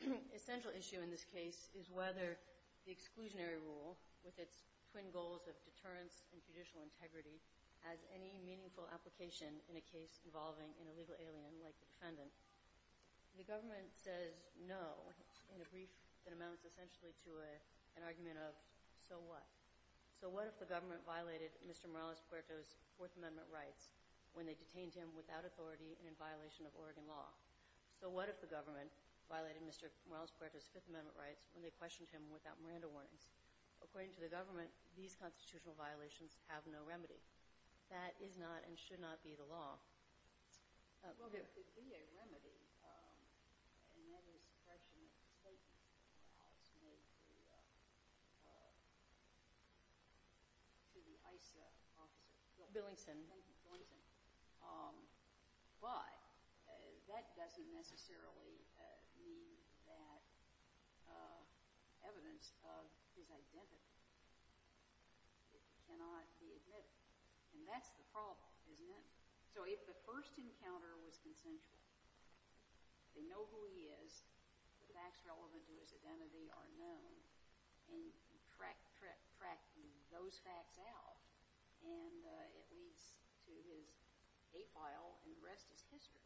The essential issue in this case is whether the exclusionary rule, with its twin goals of deterrence and judicial integrity, has any meaningful application in a case involving an illegal alien like the defendant. The government says no in a brief that amounts essentially to an argument of, so what? So what if the government violated Mr. Morales-Puerto's Fourth Amendment rights when they detained him without authority and in violation of Oregon law? So what if the government violated Mr. Morales-Puerto's Fifth Amendment rights when they questioned him without Miranda warnings? According to the government, these constitutional violations have no remedy. That is not and should not be the law. Well, there could be a remedy, and that is suppression of the statement that Morales made to the ICE officer. Billingson. Billingson. But that doesn't necessarily mean that evidence of his identity cannot be admitted. And that's the problem, isn't it? So if the first encounter was consensual, they know who he is, the facts relevant to his identity are known, and you track those facts out, and it leads to his hate file, and the rest is history.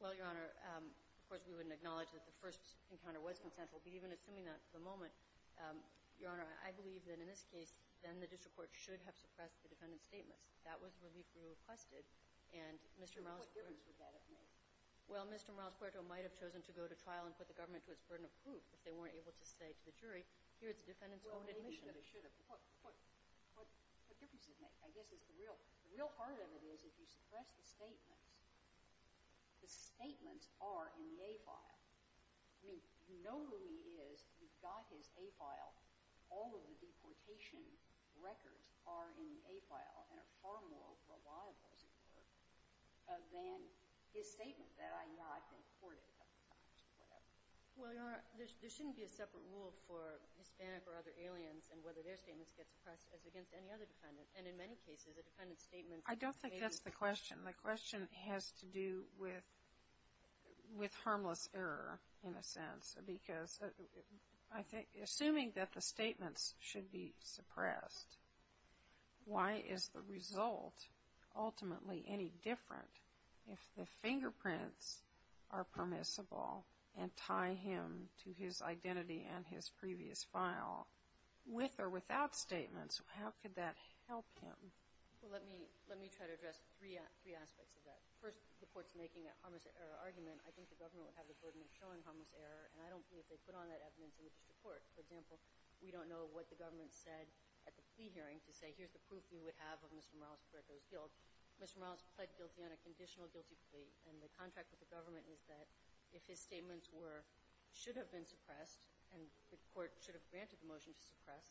Well, Your Honor, of course we wouldn't acknowledge that the first encounter was consensual, but even assuming that at the moment, Your Honor, I believe that in this case, then the government suppressed the defendant's statements. That was where we requested, and Mr. Morales-Puerto What difference would that have made? Well, Mr. Morales-Puerto might have chosen to go to trial and put the government to its burden of proof if they weren't able to say to the jury, here's the defendant's own admission. Well, they should have. What difference does it make? I guess the real part of it is if you suppress the statements, the statements are in the hate file. I mean, you know who he is, you've got his hate file, all of the deportation records are in the hate file and are far more reliable as it were than his statement that I not been courted a couple of times or whatever. Well, Your Honor, there shouldn't be a separate rule for Hispanic or other aliens and whether their statements get suppressed as against any other defendant, and in many cases, a defendant's statement I don't think that's the question. The question has to do with harmless error, in a sense, because assuming that the statements should be suppressed, why is the result ultimately any different if the fingerprints are permissible and tie him to his identity and his previous file with or without statements? How could that help him? Well, let me try to address three aspects of that. First, the court's making a harmless error, and I don't believe they put on that evidence in the district court. For example, we don't know what the government said at the plea hearing to say, here's the proof we would have of Mr. Morales-Correco's guilt. Mr. Morales pled guilty on a conditional guilty plea, and the contract with the government is that if his statements should have been suppressed and the court should have granted the motion to suppress,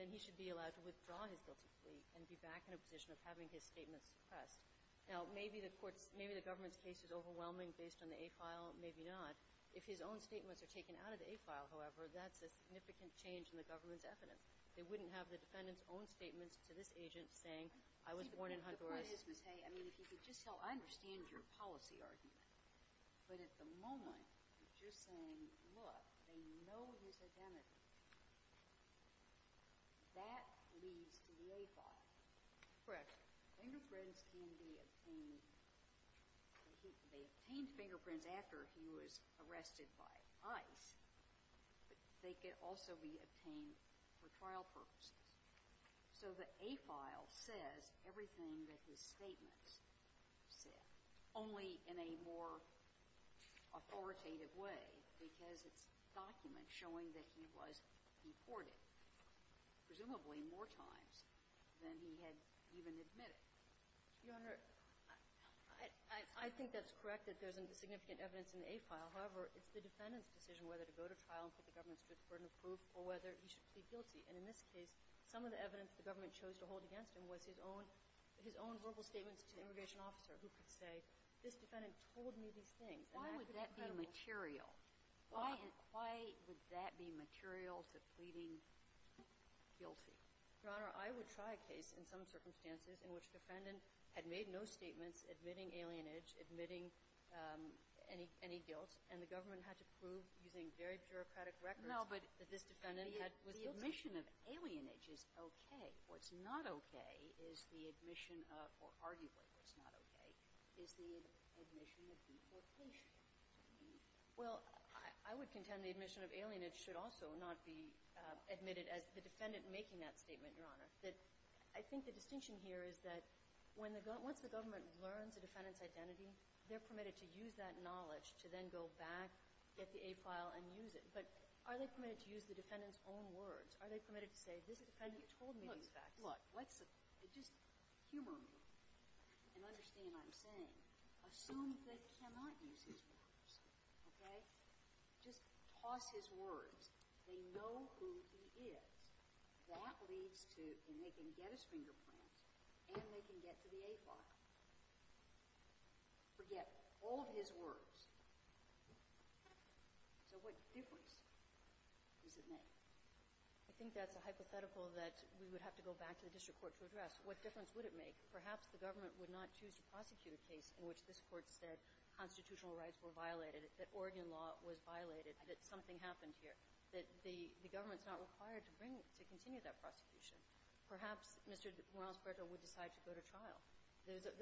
then he should be allowed to withdraw his guilty plea and be back in a position of having his statements suppressed. Now, maybe the government's case is overwhelming based on the hate file, maybe not. If his own statements are taken out of the hate file, however, that's a significant change in the government's evidence. They wouldn't have the defendant's own statements to this agent saying, I was born in Honduras. The point is, Ms. Hay, if you could just tell, I understand your policy argument, but at the moment, you're saying, look, they know his identity. That leads to the hate file. Correct. Fingerprints can be obtained. They obtained fingerprints after he was arrested by ICE, but they could also be obtained for trial purposes. So the hate file says everything that his statements said, only in a more authoritative way, because it's documents showing that he was deported, presumably more times than he had even admitted. Your Honor, I think that's correct that there's significant evidence in the hate file. However, it's the defendant's decision whether to go to trial and put the government to the burden of proof or whether he should plead guilty. And in this case, some of the evidence the government chose to hold against him was his own verbal statements to the immigration officer who could say, this defendant told me these things. Why would that be material? Why would that be material to pleading guilty? Your Honor, I would try a case in some circumstances in which the defendant had made no statements admitting alienage, admitting any guilt, and the government had to prove using very bureaucratic records that this defendant was guilty. No, but the admission of alienage is okay. What's not okay is the admission of, or arguably what's not okay is the admission of deportation. Well, I would contend the admission of alienage should also not be admitted as the defendant making that statement, Your Honor. I think the distinction here is that once the government learns the defendant's identity, they're permitted to use that knowledge to then go back, get the hate file, and use it. But are they permitted to use the defendant's own words? Are they permitted to say, this defendant told me these facts? Look, let's just humor me and understand what I'm saying. Assume they cannot use his words, okay? Just toss his words. They know who he is. That leads to, and they can get his fingerprints, and they can get to the hate file. Forget all of his words. So what difference does it make? I think that's a hypothetical that we would have to go back to the district court to address. What difference would it make? Perhaps the government would not choose to prosecute a case in which this court said constitutional rights were violated, that Oregon law was violated, that something happened here, that the government's not required to bring, to continue that prosecution. Perhaps Mr. Morales-Berger would decide to go to trial.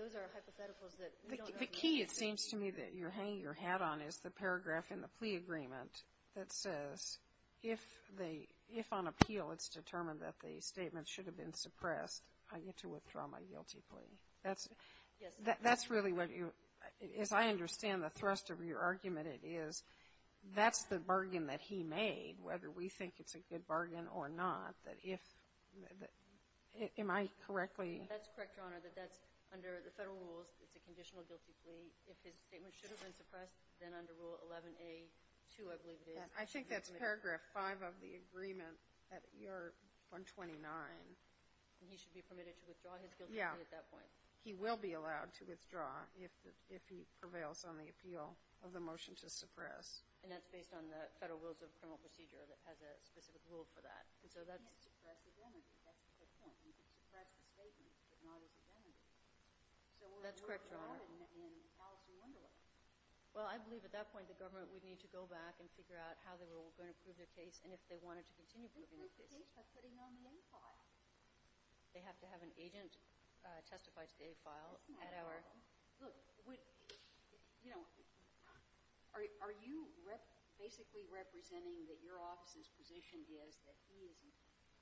Those are hypotheticals that we don't know. The key, it seems to me, that you're hanging your hat on is the paragraph in the plea agreement that says, if on appeal it's determined that the statement should have been suppressed, I get to withdraw my guilty plea. Yes. That's really what you, as I understand the thrust of your argument, it is, that's the bargain that he made, whether we think it's a good bargain or not, that if, am I correctly? That's correct, Your Honor, that that's under the federal rules, it's a conditional guilty plea. If his statement should have been suppressed, then under Rule 11A-2, I believe it is. I think that's paragraph 5 of the agreement, at year 129. And he should be permitted to withdraw his guilty plea at that point. Yeah. He will be allowed to withdraw if he prevails on the appeal of the motion to suppress. And that's based on the federal rules of criminal procedure that has a specific rule for that. And so that's... He can't suppress his energy, that's the point. He can suppress the statement, but not his Well, I believe at that point the government would need to go back and figure out how they were going to prove their case and if they wanted to continue proving their case. They can prove their case by putting it on the A file. They have to have an agent testify to the A file at our... That's not a problem. Look, you know, are you basically representing that your office's position is that he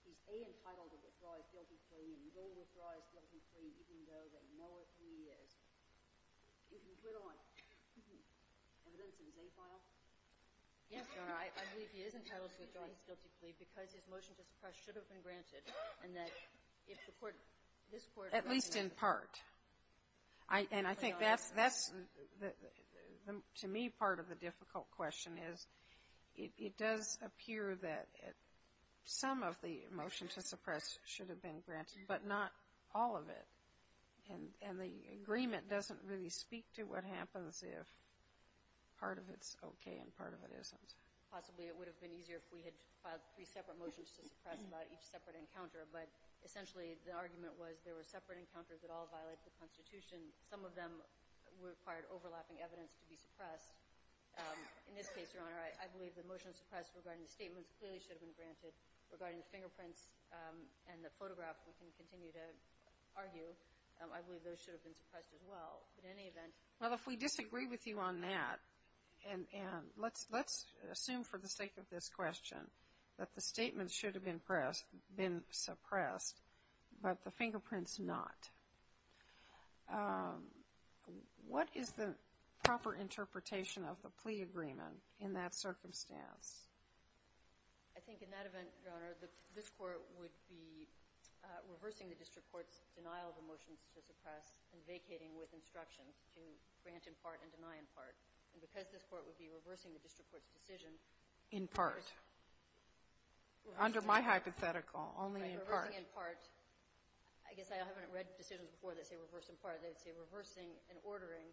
is A, entitled to withdraw his guilty plea, and he will withdraw his guilty plea even though they know what he is, even put on evidence in the A file? Yes, Your Honor, I believe he is entitled to withdraw his guilty plea because his motion to suppress should have been granted, and that if the court, this court... At least in part. And I think that's, to me, part of the difficult question is it does appear that some of the And the agreement doesn't really speak to what happens if part of it's okay and part of it isn't. Possibly it would have been easier if we had filed three separate motions to suppress about each separate encounter, but essentially the argument was there were separate encounters that all violated the Constitution. Some of them required overlapping evidence to be suppressed. In this case, Your Honor, I believe the motion to suppress regarding the statements clearly should have been granted. Regarding the fingerprints and the photograph, we can continue to argue. I believe those should have been suppressed as well. In any event... Well, if we disagree with you on that, and let's assume for the sake of this question that the statements should have been suppressed, but the fingerprints not, what is the proper interpretation of the plea agreement in that circumstance? I think in that event, Your Honor, this Court would be reversing the district court's denial of the motions to suppress and vacating with instruction to grant in part and deny in part. And because this Court would be reversing the district court's decision... In part. Under my hypothetical, only in part. Right. Reversing in part. I guess I haven't read decisions before that say reverse in part. They would say reversing and ordering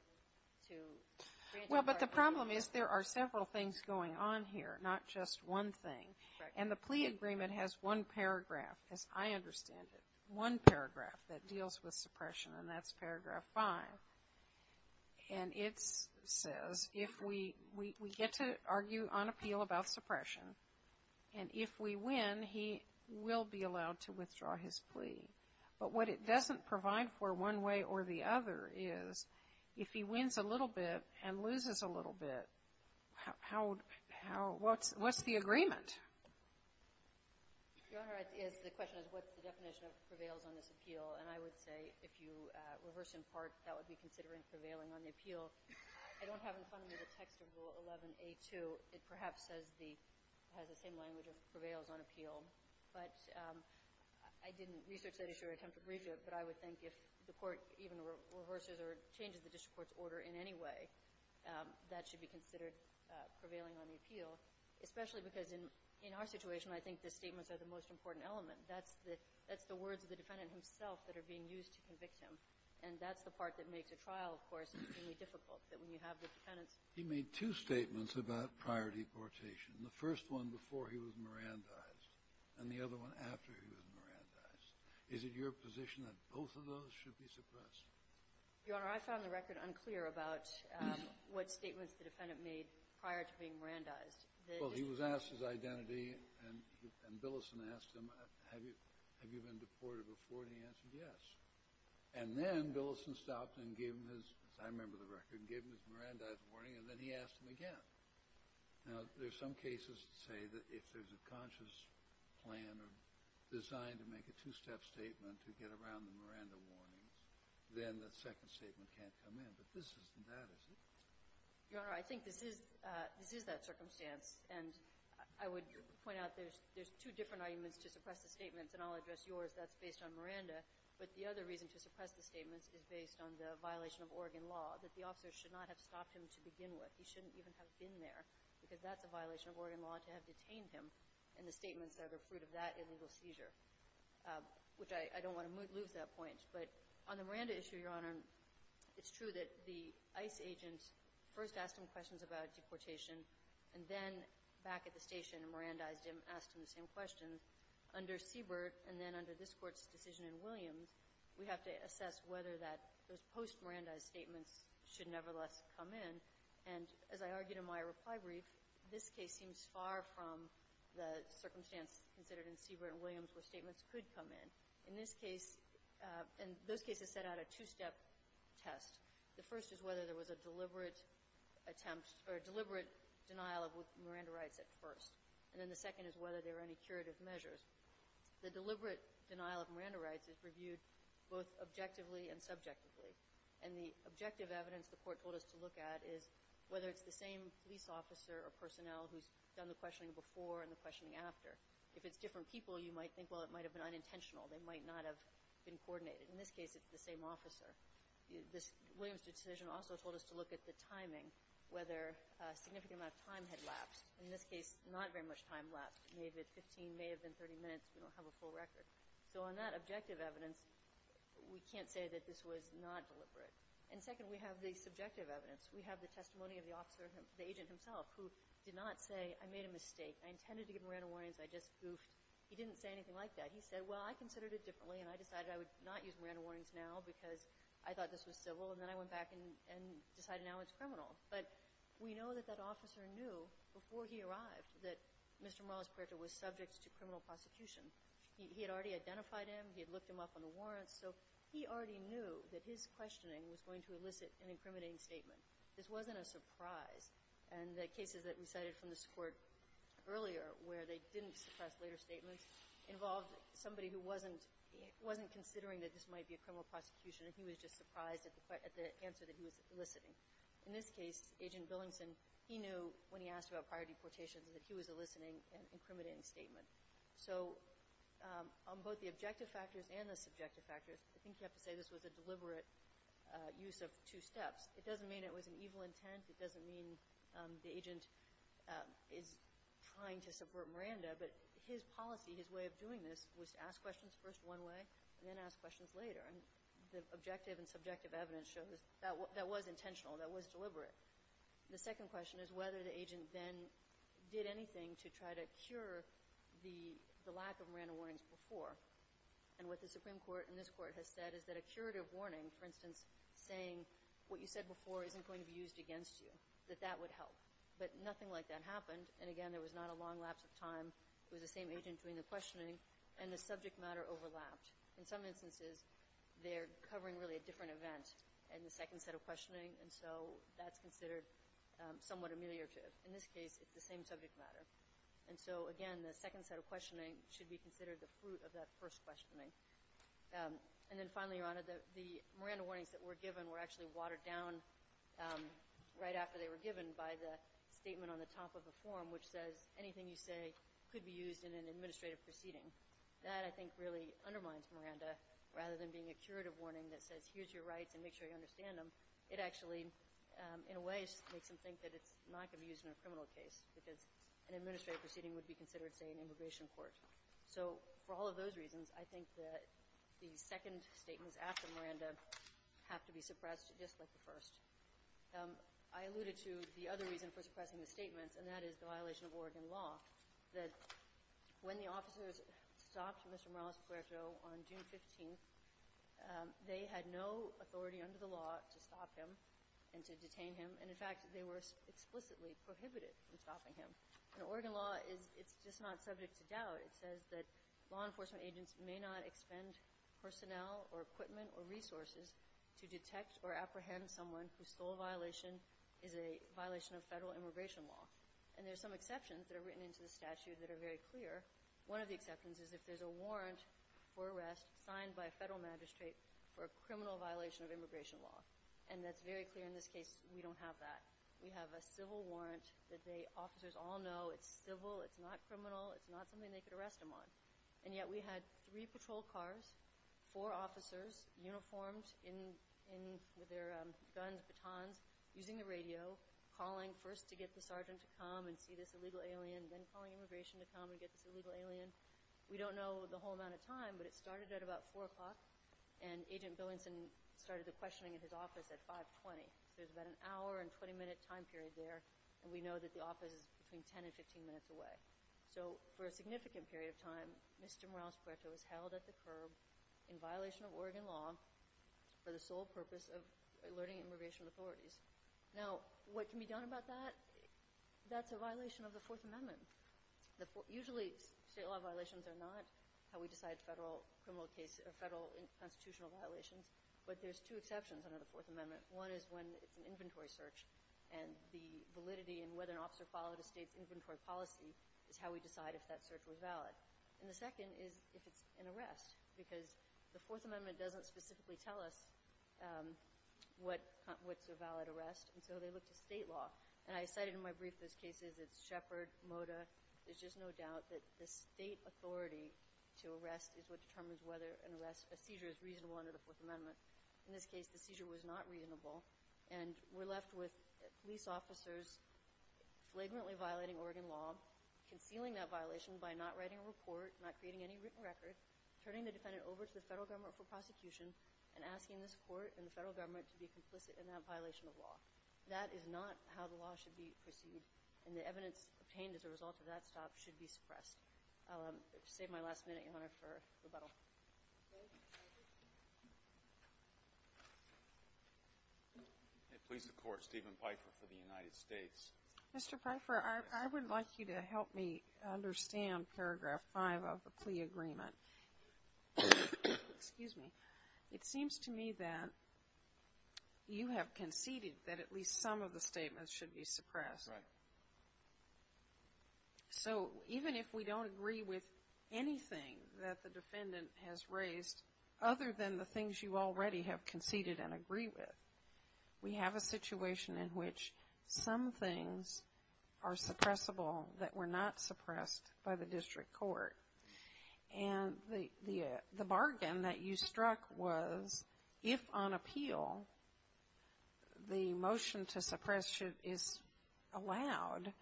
to grant in part. Well, but the problem is there are several things going on here, not just one thing. And the plea agreement has one paragraph, as I understand it, one paragraph, that deals with suppression, and that's paragraph five. And it says if we get to argue on appeal about suppression, and if we win, he will be allowed to withdraw his plea. But what it doesn't provide for one way or the other is if he wins a little bit and loses a little bit, what's the agreement? Your Honor, the question is what's the definition of prevails on this appeal? And I would say if you reverse in part, that would be considering prevailing on the appeal. I don't have in front of me the text of Rule 11A2. It perhaps has the same language of prevails on appeal. But I didn't research that issue or attempt to brief it, but I would think if the court even reverses or changes the district court's order in any way, that should be considered prevailing on the appeal, especially because in our situation, I think the statements are the most important element. That's the words of the defendant himself that are being used to convict him, and that's the part that makes a trial, of course, extremely difficult, that when you have the defendant's ---- He made two statements about prior deportation, the first one before he was Mirandized and the other one after he was Mirandized. Is it your position that both of those should be suppressed? Your Honor, I found the record unclear about what statements the defendant made prior to being Mirandized. Well, he was asked his identity, and Billison asked him, have you been deported before, and he answered yes. And then Billison stopped and gave him his, as I remember the record, gave him his Mirandized warning, and then he asked him again. Now, there's some cases that say that if there's a conscious plan or design to make a two-step statement to get around the Miranda warning, then the second statement can't come in, but this isn't that, is it? Your Honor, I think this is that circumstance, and I would point out there's two different arguments to suppress the statements, and I'll address yours. That's based on Miranda, but the other reason to suppress the statements is based on the violation of Oregon law, that the officer should not have stopped him to begin with. He shouldn't even have been there because that's a violation of Oregon law to have detained him, and the statements are the fruit of that illegal seizure, which I don't want to lose that point. But on the Miranda issue, Your Honor, it's true that the ICE agent first asked him questions about deportation, and then back at the station, Mirandized him, asked him the same questions. Under Siebert and then under this Court's decision in Williams, we have to assess whether those post-Mirandized statements should nevertheless come in, and as I argued in my reply brief, this case seems far from the circumstance considered in Siebert and Williams where statements could come in. In this case, and those cases set out a two-step test. The first is whether there was a deliberate attempt or a deliberate denial of Miranda rights at first, and then the second is whether there were any curative measures. The deliberate denial of Miranda rights is reviewed both objectively and subjectively, and the objective evidence the Court told us to look at is whether it's the same police officer or personnel who's done the questioning before and the questioning after. If it's different people, you might think, well, it might have been unintentional. They might not have been coordinated. In this case, it's the same officer. Williams' decision also told us to look at the timing, whether a significant amount of time had lapsed. In this case, not very much time lapsed. It may have been 15, may have been 30 minutes. We don't have a full record. So on that objective evidence, we can't say that this was not deliberate. Second, we have the subjective evidence. We have the testimony of the agent himself who did not say, I made a mistake, I intended to give Miranda warrants, I just goofed. He didn't say anything like that. He said, well, I considered it differently, and I decided I would not use Miranda warrants now because I thought this was civil, and then I went back and decided now it's criminal. But we know that that officer knew before he arrived that Mr. Morales Puerta was subject to criminal prosecution. He had already identified him. He had looked him up on the warrants. So he already knew that his questioning was going to elicit an incriminating statement. This wasn't a surprise. And the cases that we cited from this court earlier where they didn't suppress later statements involved somebody who wasn't considering that this might be a criminal prosecution and he was just surprised at the answer that he was eliciting. In this case, Agent Billingson, he knew when he asked about prior deportations that he was eliciting an incriminating statement. So on both the objective factors and the subjective factors, I think you have to say this was a deliberate use of two steps. It doesn't mean it was an evil intent. It doesn't mean the agent is trying to subvert Miranda. But his policy, his way of doing this was to ask questions first one way and then ask questions later. And the objective and subjective evidence shows that was intentional, that was deliberate. The second question is whether the agent then did anything to try to cure the lack of Miranda warnings before. And what the Supreme Court in this court has said is that a curative warning, for instance, saying what you said before isn't going to be used against you, that that would help. But nothing like that happened. And, again, there was not a long lapse of time. It was the same agent doing the questioning, and the subject matter overlapped. In some instances, they're covering really a different event in the second set of questioning, and so that's considered somewhat ameliorative. In this case, it's the same subject matter. And so, again, the second set of questioning should be considered the fruit of that first questioning. And then finally, Your Honor, the Miranda warnings that were given were actually watered down right after they were given by the statement on the top of the form, which says anything you say could be used in an administrative proceeding. That, I think, really undermines Miranda. Rather than being a curative warning that says here's your rights and make sure you understand them, it actually, in a way, makes them think that it's not going to be used in a criminal case because an administrative proceeding would be considered, say, an immigration court. So for all of those reasons, I think that the second statements after Miranda have to be suppressed just like the first. I alluded to the other reason for suppressing the statements, and that is the violation of Oregon law, that when the officers stopped Mr. Morales-Puerto on June 15th, they had no authority under the law to stop him and to detain him. And, in fact, they were explicitly prohibited from stopping him. And Oregon law, it's just not subject to doubt. It says that law enforcement agents may not expend personnel or equipment or resources to detect or apprehend someone whose sole violation is a violation of federal immigration law. And there are some exceptions that are written into the statute that are very clear. One of the exceptions is if there's a warrant for arrest signed by a federal magistrate for a criminal violation of immigration law. And that's very clear in this case. We don't have that. We have a civil warrant that the officers all know. It's civil. It's not criminal. It's not something they could arrest him on. And yet we had three patrol cars, four officers, uniformed with their guns, batons, using the radio, calling first to get the sergeant to come and see this illegal alien, then calling immigration to come and get this illegal alien. We don't know the whole amount of time, but it started at about 4 o'clock, and Agent Billenson started the questioning at his office at 5.20. There's about an hour and 20-minute time period there, and we know that the office is between 10 and 15 minutes away. So for a significant period of time, Mr. Morales-Puerto was held at the curb in violation of Oregon law for the sole purpose of alerting immigration authorities. Now, what can be done about that? That's a violation of the Fourth Amendment. Usually state law violations are not how we decide federal constitutional violations, but there's two exceptions under the Fourth Amendment. One is when it's an inventory search, and the validity and whether an officer followed a state's inventory policy is how we decide if that search was valid. And the second is if it's an arrest, because the Fourth Amendment doesn't specifically tell us what's a valid arrest, and so they look to state law. And I cited in my brief those cases. It's Shepard, Mota. There's just no doubt that the state authority to arrest is what determines whether an arrest, a seizure, is reasonable under the Fourth Amendment. In this case, the seizure was not reasonable, and we're left with police officers flagrantly violating Oregon law, concealing that violation by not writing a report, not creating any written record, turning the defendant over to the federal government for prosecution, and asking this court and the federal government to be complicit in that violation of law. That is not how the law should be perceived, and the evidence obtained as a result of that stop should be suppressed. I'll save my last minute, Your Honor, for rebuttal. Thank you. May it please the Court, Stephen Pfeiffer for the United States. Mr. Pfeiffer, I would like you to help me understand Paragraph 5 of the plea agreement. Excuse me. It seems to me that you have conceded that at least some of the statements should be suppressed. Right. So even if we don't agree with anything that the defendant has raised, other than the things you already have conceded and agree with, we have a situation in which some things are suppressible that were not suppressed by the district court. And the bargain that you struck was if on appeal the motion to suppress is allowed,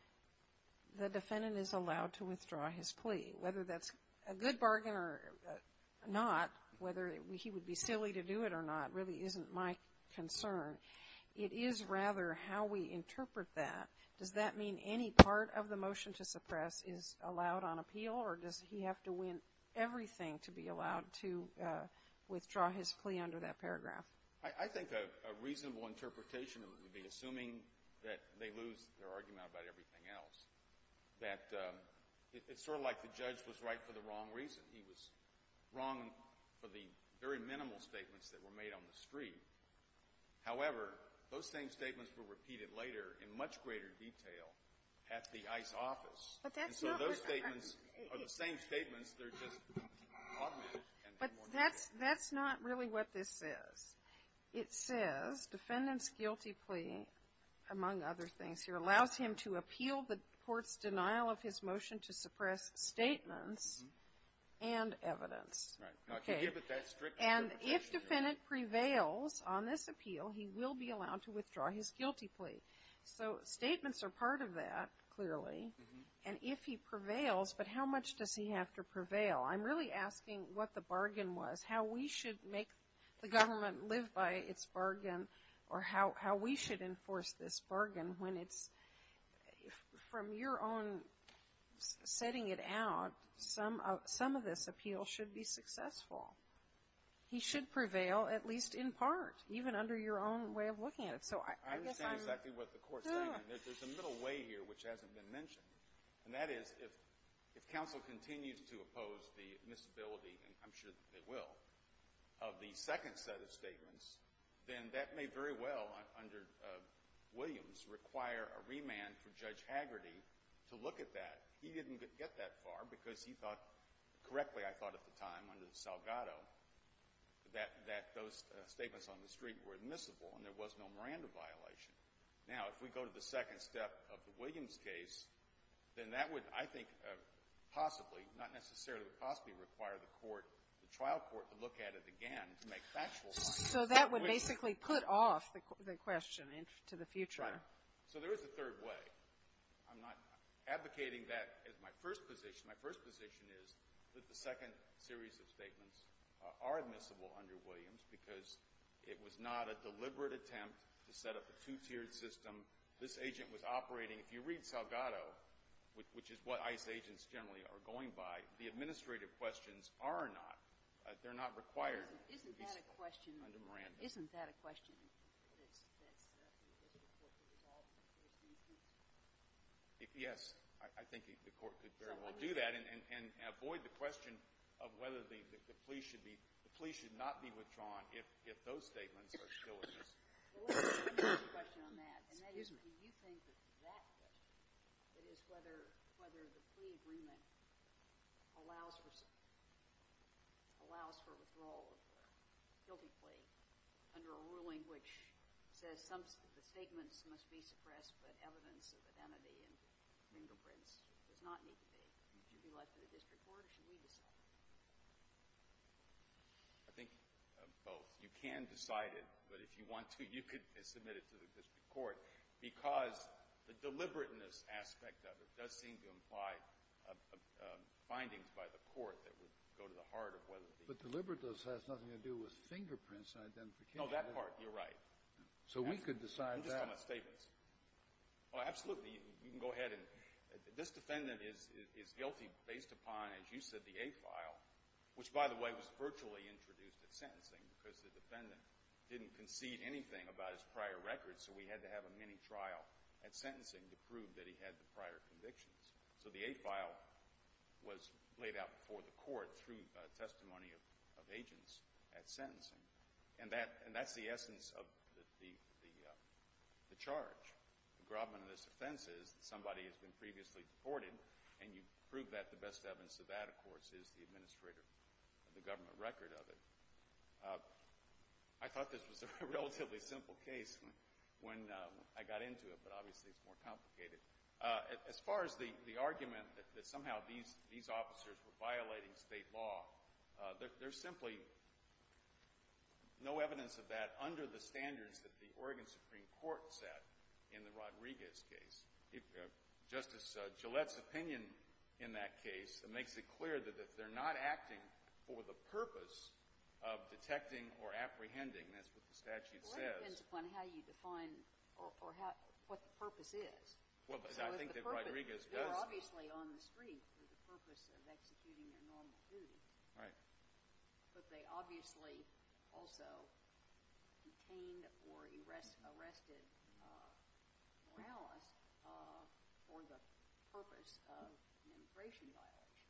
the defendant is allowed to withdraw his plea. Whether that's a good bargain or not, whether he would be silly to do it or not really isn't my concern. It is rather how we interpret that. Does that mean any part of the motion to suppress is allowed on appeal or does he have to win everything to be allowed to withdraw his plea under that paragraph? I think a reasonable interpretation would be, assuming that they lose their argument about everything else, that it's sort of like the judge was right for the wrong reason. He was wrong for the very minimal statements that were made on the street. However, those same statements were repeated later in much greater detail at the ICE office. And so those statements are the same statements, they're just augmented. But that's not really what this says. It says, defendant's guilty plea, among other things here, allows him to appeal the court's denial of his motion to suppress statements and evidence. Right. And if defendant prevails on this appeal, he will be allowed to withdraw his guilty plea. So statements are part of that, clearly. And if he prevails, but how much does he have to prevail? I'm really asking what the bargain was, how we should make the government live by its bargain or how we should enforce this bargain when it's, from your own setting it out, some of this appeal should be successful. He should prevail at least in part, even under your own way of looking at it. I understand exactly what the court's saying. There's a middle way here which hasn't been mentioned, and that is if counsel continues to oppose the misability, and I'm sure that they will, of the second set of statements, then that may very well, under Williams, require a remand for Judge Hagerty to look at that. He didn't get that far because he thought, correctly I thought at the time, under Salgado, that those statements on the street were admissible and there was no Miranda violation. Now, if we go to the second step of the Williams case, then that would, I think, possibly, not necessarily would possibly require the court, the trial court, to look at it again to make factual comments. So that would basically put off the question to the future. Right. So there is a third way. I'm not advocating that as my first position. My first position is that the second series of statements are admissible under Williams because it was not a deliberate attempt to set up a two-tiered system. This agent was operating, if you read Salgado, which is what ICE agents generally are going by, the administrative questions are not. They're not required under Miranda. Isn't that a question that the court could resolve? Yes. I think the court could very well do that and avoid the question of whether the plea should not be withdrawn if those statements are still admissible. Well, let me ask a question on that, and that is do you think that that question, that is whether the plea agreement allows for withdrawal of the guilty plea under a ruling which says the statements must be suppressed but evidence of identity and fingerprints does not need to be. Would you like the district court or should we decide? I think both. You can decide it, but if you want to, you could submit it to the district court because the deliberateness aspect of it does seem to imply findings by the court that would go to the heart of whether the— But deliberateness has nothing to do with fingerprints and identification. No, that part, you're right. So we could decide that. I'm just talking about statements. Oh, absolutely. You can go ahead. This defendant is guilty based upon, as you said, the A file, which, by the way, was virtually introduced at sentencing because the defendant didn't concede anything about his prior records, so we had to have a mini-trial at sentencing to prove that he had the prior convictions. So the A file was laid out before the court through testimony of agents at sentencing, and that's the essence of the charge. The grobbing of this offense is that somebody has been previously deported, and you prove that the best evidence of that, of course, is the administrator of the government record of it. I thought this was a relatively simple case when I got into it, but obviously it's more complicated. As far as the argument that somehow these officers were violating state law, there's simply no evidence of that under the standards that the Oregon Supreme Court set in the Rodriguez case. Justice Gillette's opinion in that case makes it clear that they're not acting for the purpose of detecting or apprehending. That's what the statute says. Well, it depends upon how you define or what the purpose is. Well, I think that Rodriguez does that. They're obviously on the street for the purpose of executing their normal duty. Right. But they obviously also detained or arrested Morales for the purpose of an immigration violation.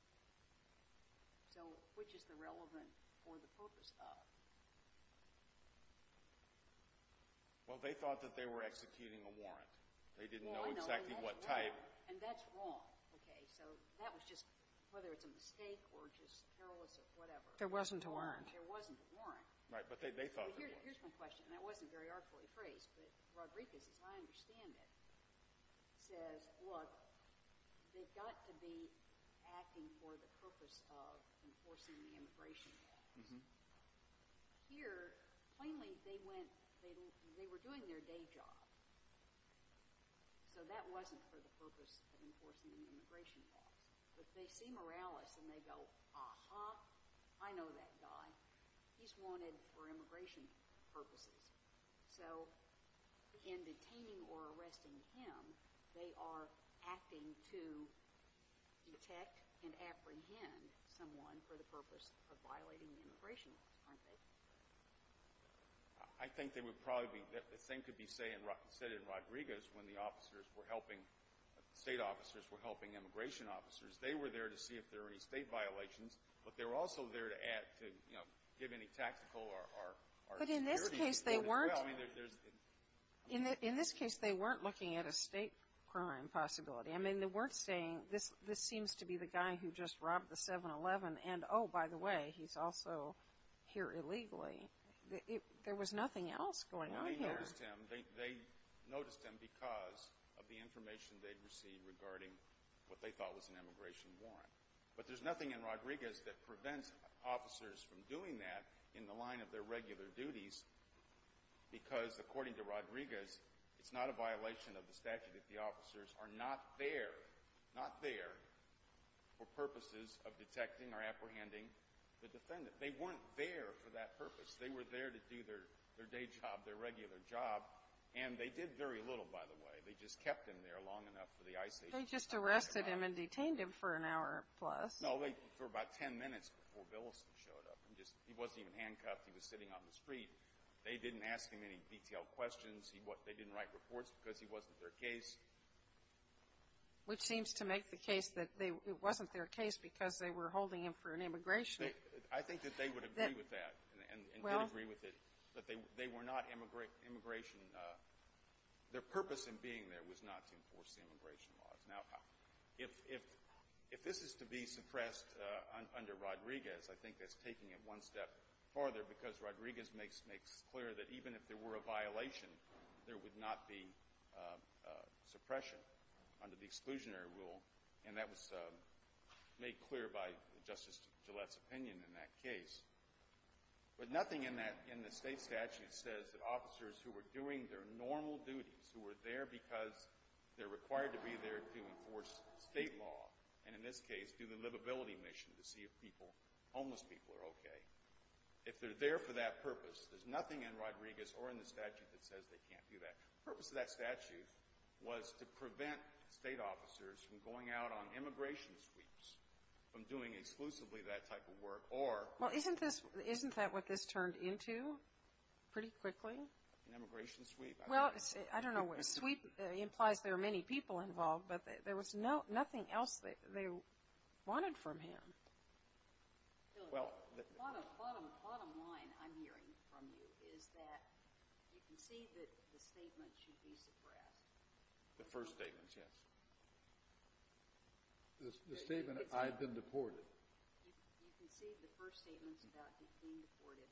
So which is the relevant for the purpose of? Well, they thought that they were executing a warrant. They didn't know exactly what type. And that's wrong. Okay, so that was just whether it's a mistake or just careless or whatever. There wasn't a warrant. There wasn't a warrant. Right, but they thought there was. Here's my question, and that wasn't very artfully phrased, but Rodriguez, as I understand it, says, look, they've got to be acting for the purpose of enforcing the immigration law. Here, plainly, they were doing their day job. So that wasn't for the purpose of enforcing the immigration law. But they see Morales, and they go, aha, I know that guy. He's wanted for immigration purposes. So in detaining or arresting him, they are acting to detect and apprehend someone for the purpose of violating the immigration law, aren't they? I think they would probably be. The same could be said in Rodriguez when the state officers were helping immigration officers. They were there to see if there were any state violations, but they were also there to give any tactical or security. But in this case, they weren't looking at a state crime possibility. I mean, they weren't saying, this seems to be the guy who just robbed the 7-Eleven, and oh, by the way, he's also here illegally. There was nothing else going on here. They noticed him because of the information they'd received regarding what they thought was an immigration warrant. But there's nothing in Rodriguez that prevents officers from doing that in the line of their regular duties, because according to Rodriguez, it's not a violation of the statute if the officers are not there, for purposes of detecting or apprehending the defendant. They weren't there for that purpose. They were there to do their day job, their regular job. And they did very little, by the way. They just kept him there long enough for the ICE agent. They just arrested him and detained him for an hour plus. No, for about 10 minutes before Billiston showed up. He wasn't even handcuffed. He was sitting on the street. They didn't ask him any detailed questions. They didn't write reports because he wasn't their case. Which seems to make the case that it wasn't their case because they were holding him for an immigration. I think that they would agree with that and would agree with it, that they were not immigration. Their purpose in being there was not to enforce the immigration laws. Now, if this is to be suppressed under Rodriguez, I think that's taking it one step farther, because Rodriguez makes clear that even if there were a violation, there would not be suppression under the exclusionary rule. And that was made clear by Justice Gillette's opinion in that case. But nothing in the state statute says that officers who were doing their normal duties, who were there because they're required to be there to enforce state law, and in this case do the livability mission to see if homeless people are okay, if they're there for that purpose. There's nothing in Rodriguez or in the statute that says they can't do that. The purpose of that statute was to prevent state officers from going out on immigration sweeps, from doing exclusively that type of work. Well, isn't that what this turned into pretty quickly? An immigration sweep. Well, I don't know what a sweep implies. There are many people involved, but there was nothing else that they wanted from him. Bottom line I'm hearing from you is that you concede that the statement should be suppressed. The first statement, yes. The statement, I've been deported. You concede the first statement about being deported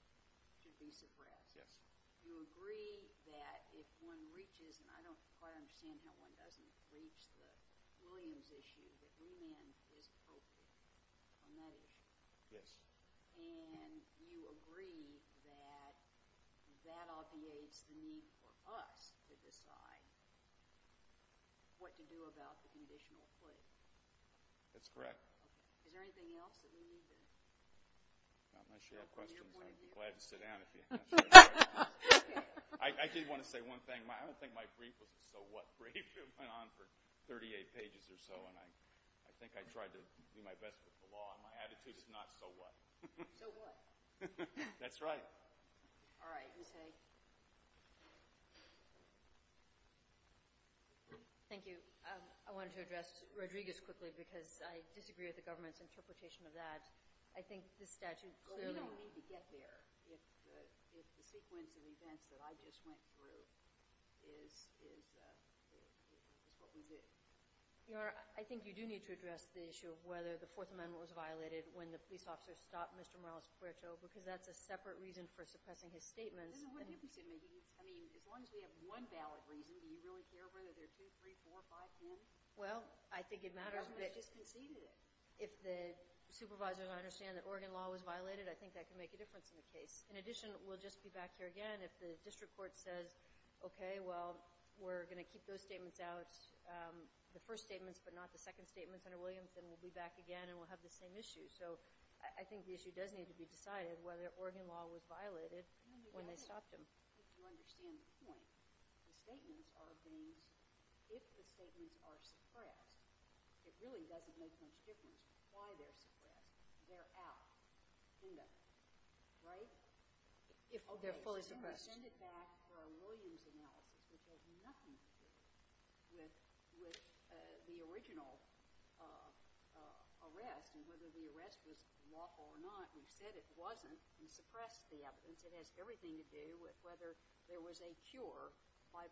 should be suppressed. You agree that if one reaches, and I don't quite understand how one doesn't reach the Williams issue, that remand is appropriate on that issue. Yes. And you agree that that obviates the need for us to decide what to do about the conditional foot. That's correct. Is there anything else that we need? Not my share of questions. I'd be glad to sit down if you have some. I did want to say one thing. I don't think my brief was a so what brief. It went on for 38 pages or so, and I think I tried to do my best with the law, and my attitude is not so what. So what? That's right. All right. Ms. Hay. Thank you. I wanted to address Rodriguez quickly because I disagree with the government's interpretation of that. We don't need to get there if the sequence of events that I just went through is what we did. Your Honor, I think you do need to address the issue of whether the Fourth Amendment was violated when the police officer stopped Mr. Morales-Puerto, because that's a separate reason for suppressing his statements. What difference does it make? I mean, as long as we have one valid reason, do we really care whether there are two, three, four, five, ten? Well, I think it matters. The government just conceded it. If the supervisors understand that Oregon law was violated, I think that can make a difference in the case. In addition, we'll just be back here again if the district court says, okay, well, we're going to keep those statements out, the first statements but not the second statements under Williamson. We'll be back again, and we'll have the same issue. So I think the issue does need to be decided, whether Oregon law was violated when they stopped him. You understand the point. The statements are things. If the statements are suppressed, it really doesn't make much difference why they're suppressed. They're out. End of. Right? If they're fully suppressed. Send it back for a Williams analysis. It has nothing to do with the original arrest and whether the arrest was lawful or not. We've said it wasn't. We suppressed the evidence. It has everything to do with whether there was a cure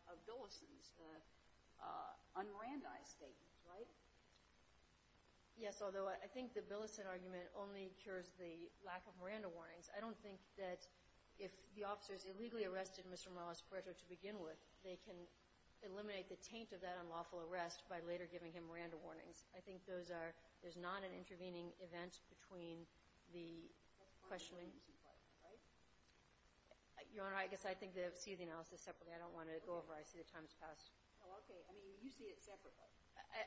of Billison's un-Miranda-ized statements. Right? Yes, although I think the Billison argument only cures the lack of Miranda warnings. I don't think that if the officers illegally arrested Mr. Morales-Correto to begin with, they can eliminate the taint of that unlawful arrest by later giving him Miranda warnings. I think there's not an intervening event between the questioning. Your Honor, I guess I see the analysis separately. I don't want to go over. I see the time has passed. Oh, okay. You see it separately.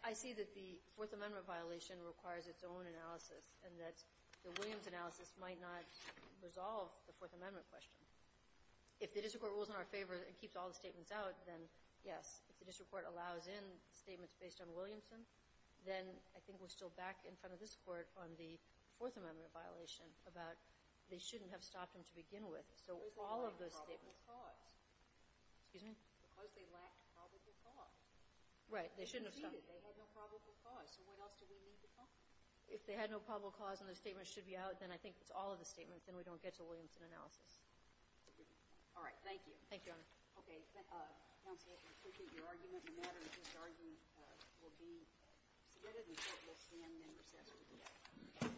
I see that the Fourth Amendment violation requires its own analysis and that the Williams analysis might not resolve the Fourth Amendment question. If the district court rules in our favor and keeps all the statements out, then yes. If the district court allows in statements based on Williamson, then I think we're still back in front of this court on the Fourth Amendment violation about they shouldn't have stopped him to begin with. So all of those statements. Because they lacked probable cause. Excuse me? Because they lacked probable cause. Right. They shouldn't have stopped him. They had no probable cause. So what else do we need to talk about? If they had no probable cause and those statements should be out, then I think it's all of the statements, then we don't get to Williamson analysis. All right. Thank you. Thank you, Your Honor. Okay. Counselor, I appreciate your argument. The matter of this argument will be submitted, and so it will stand in recess for the day.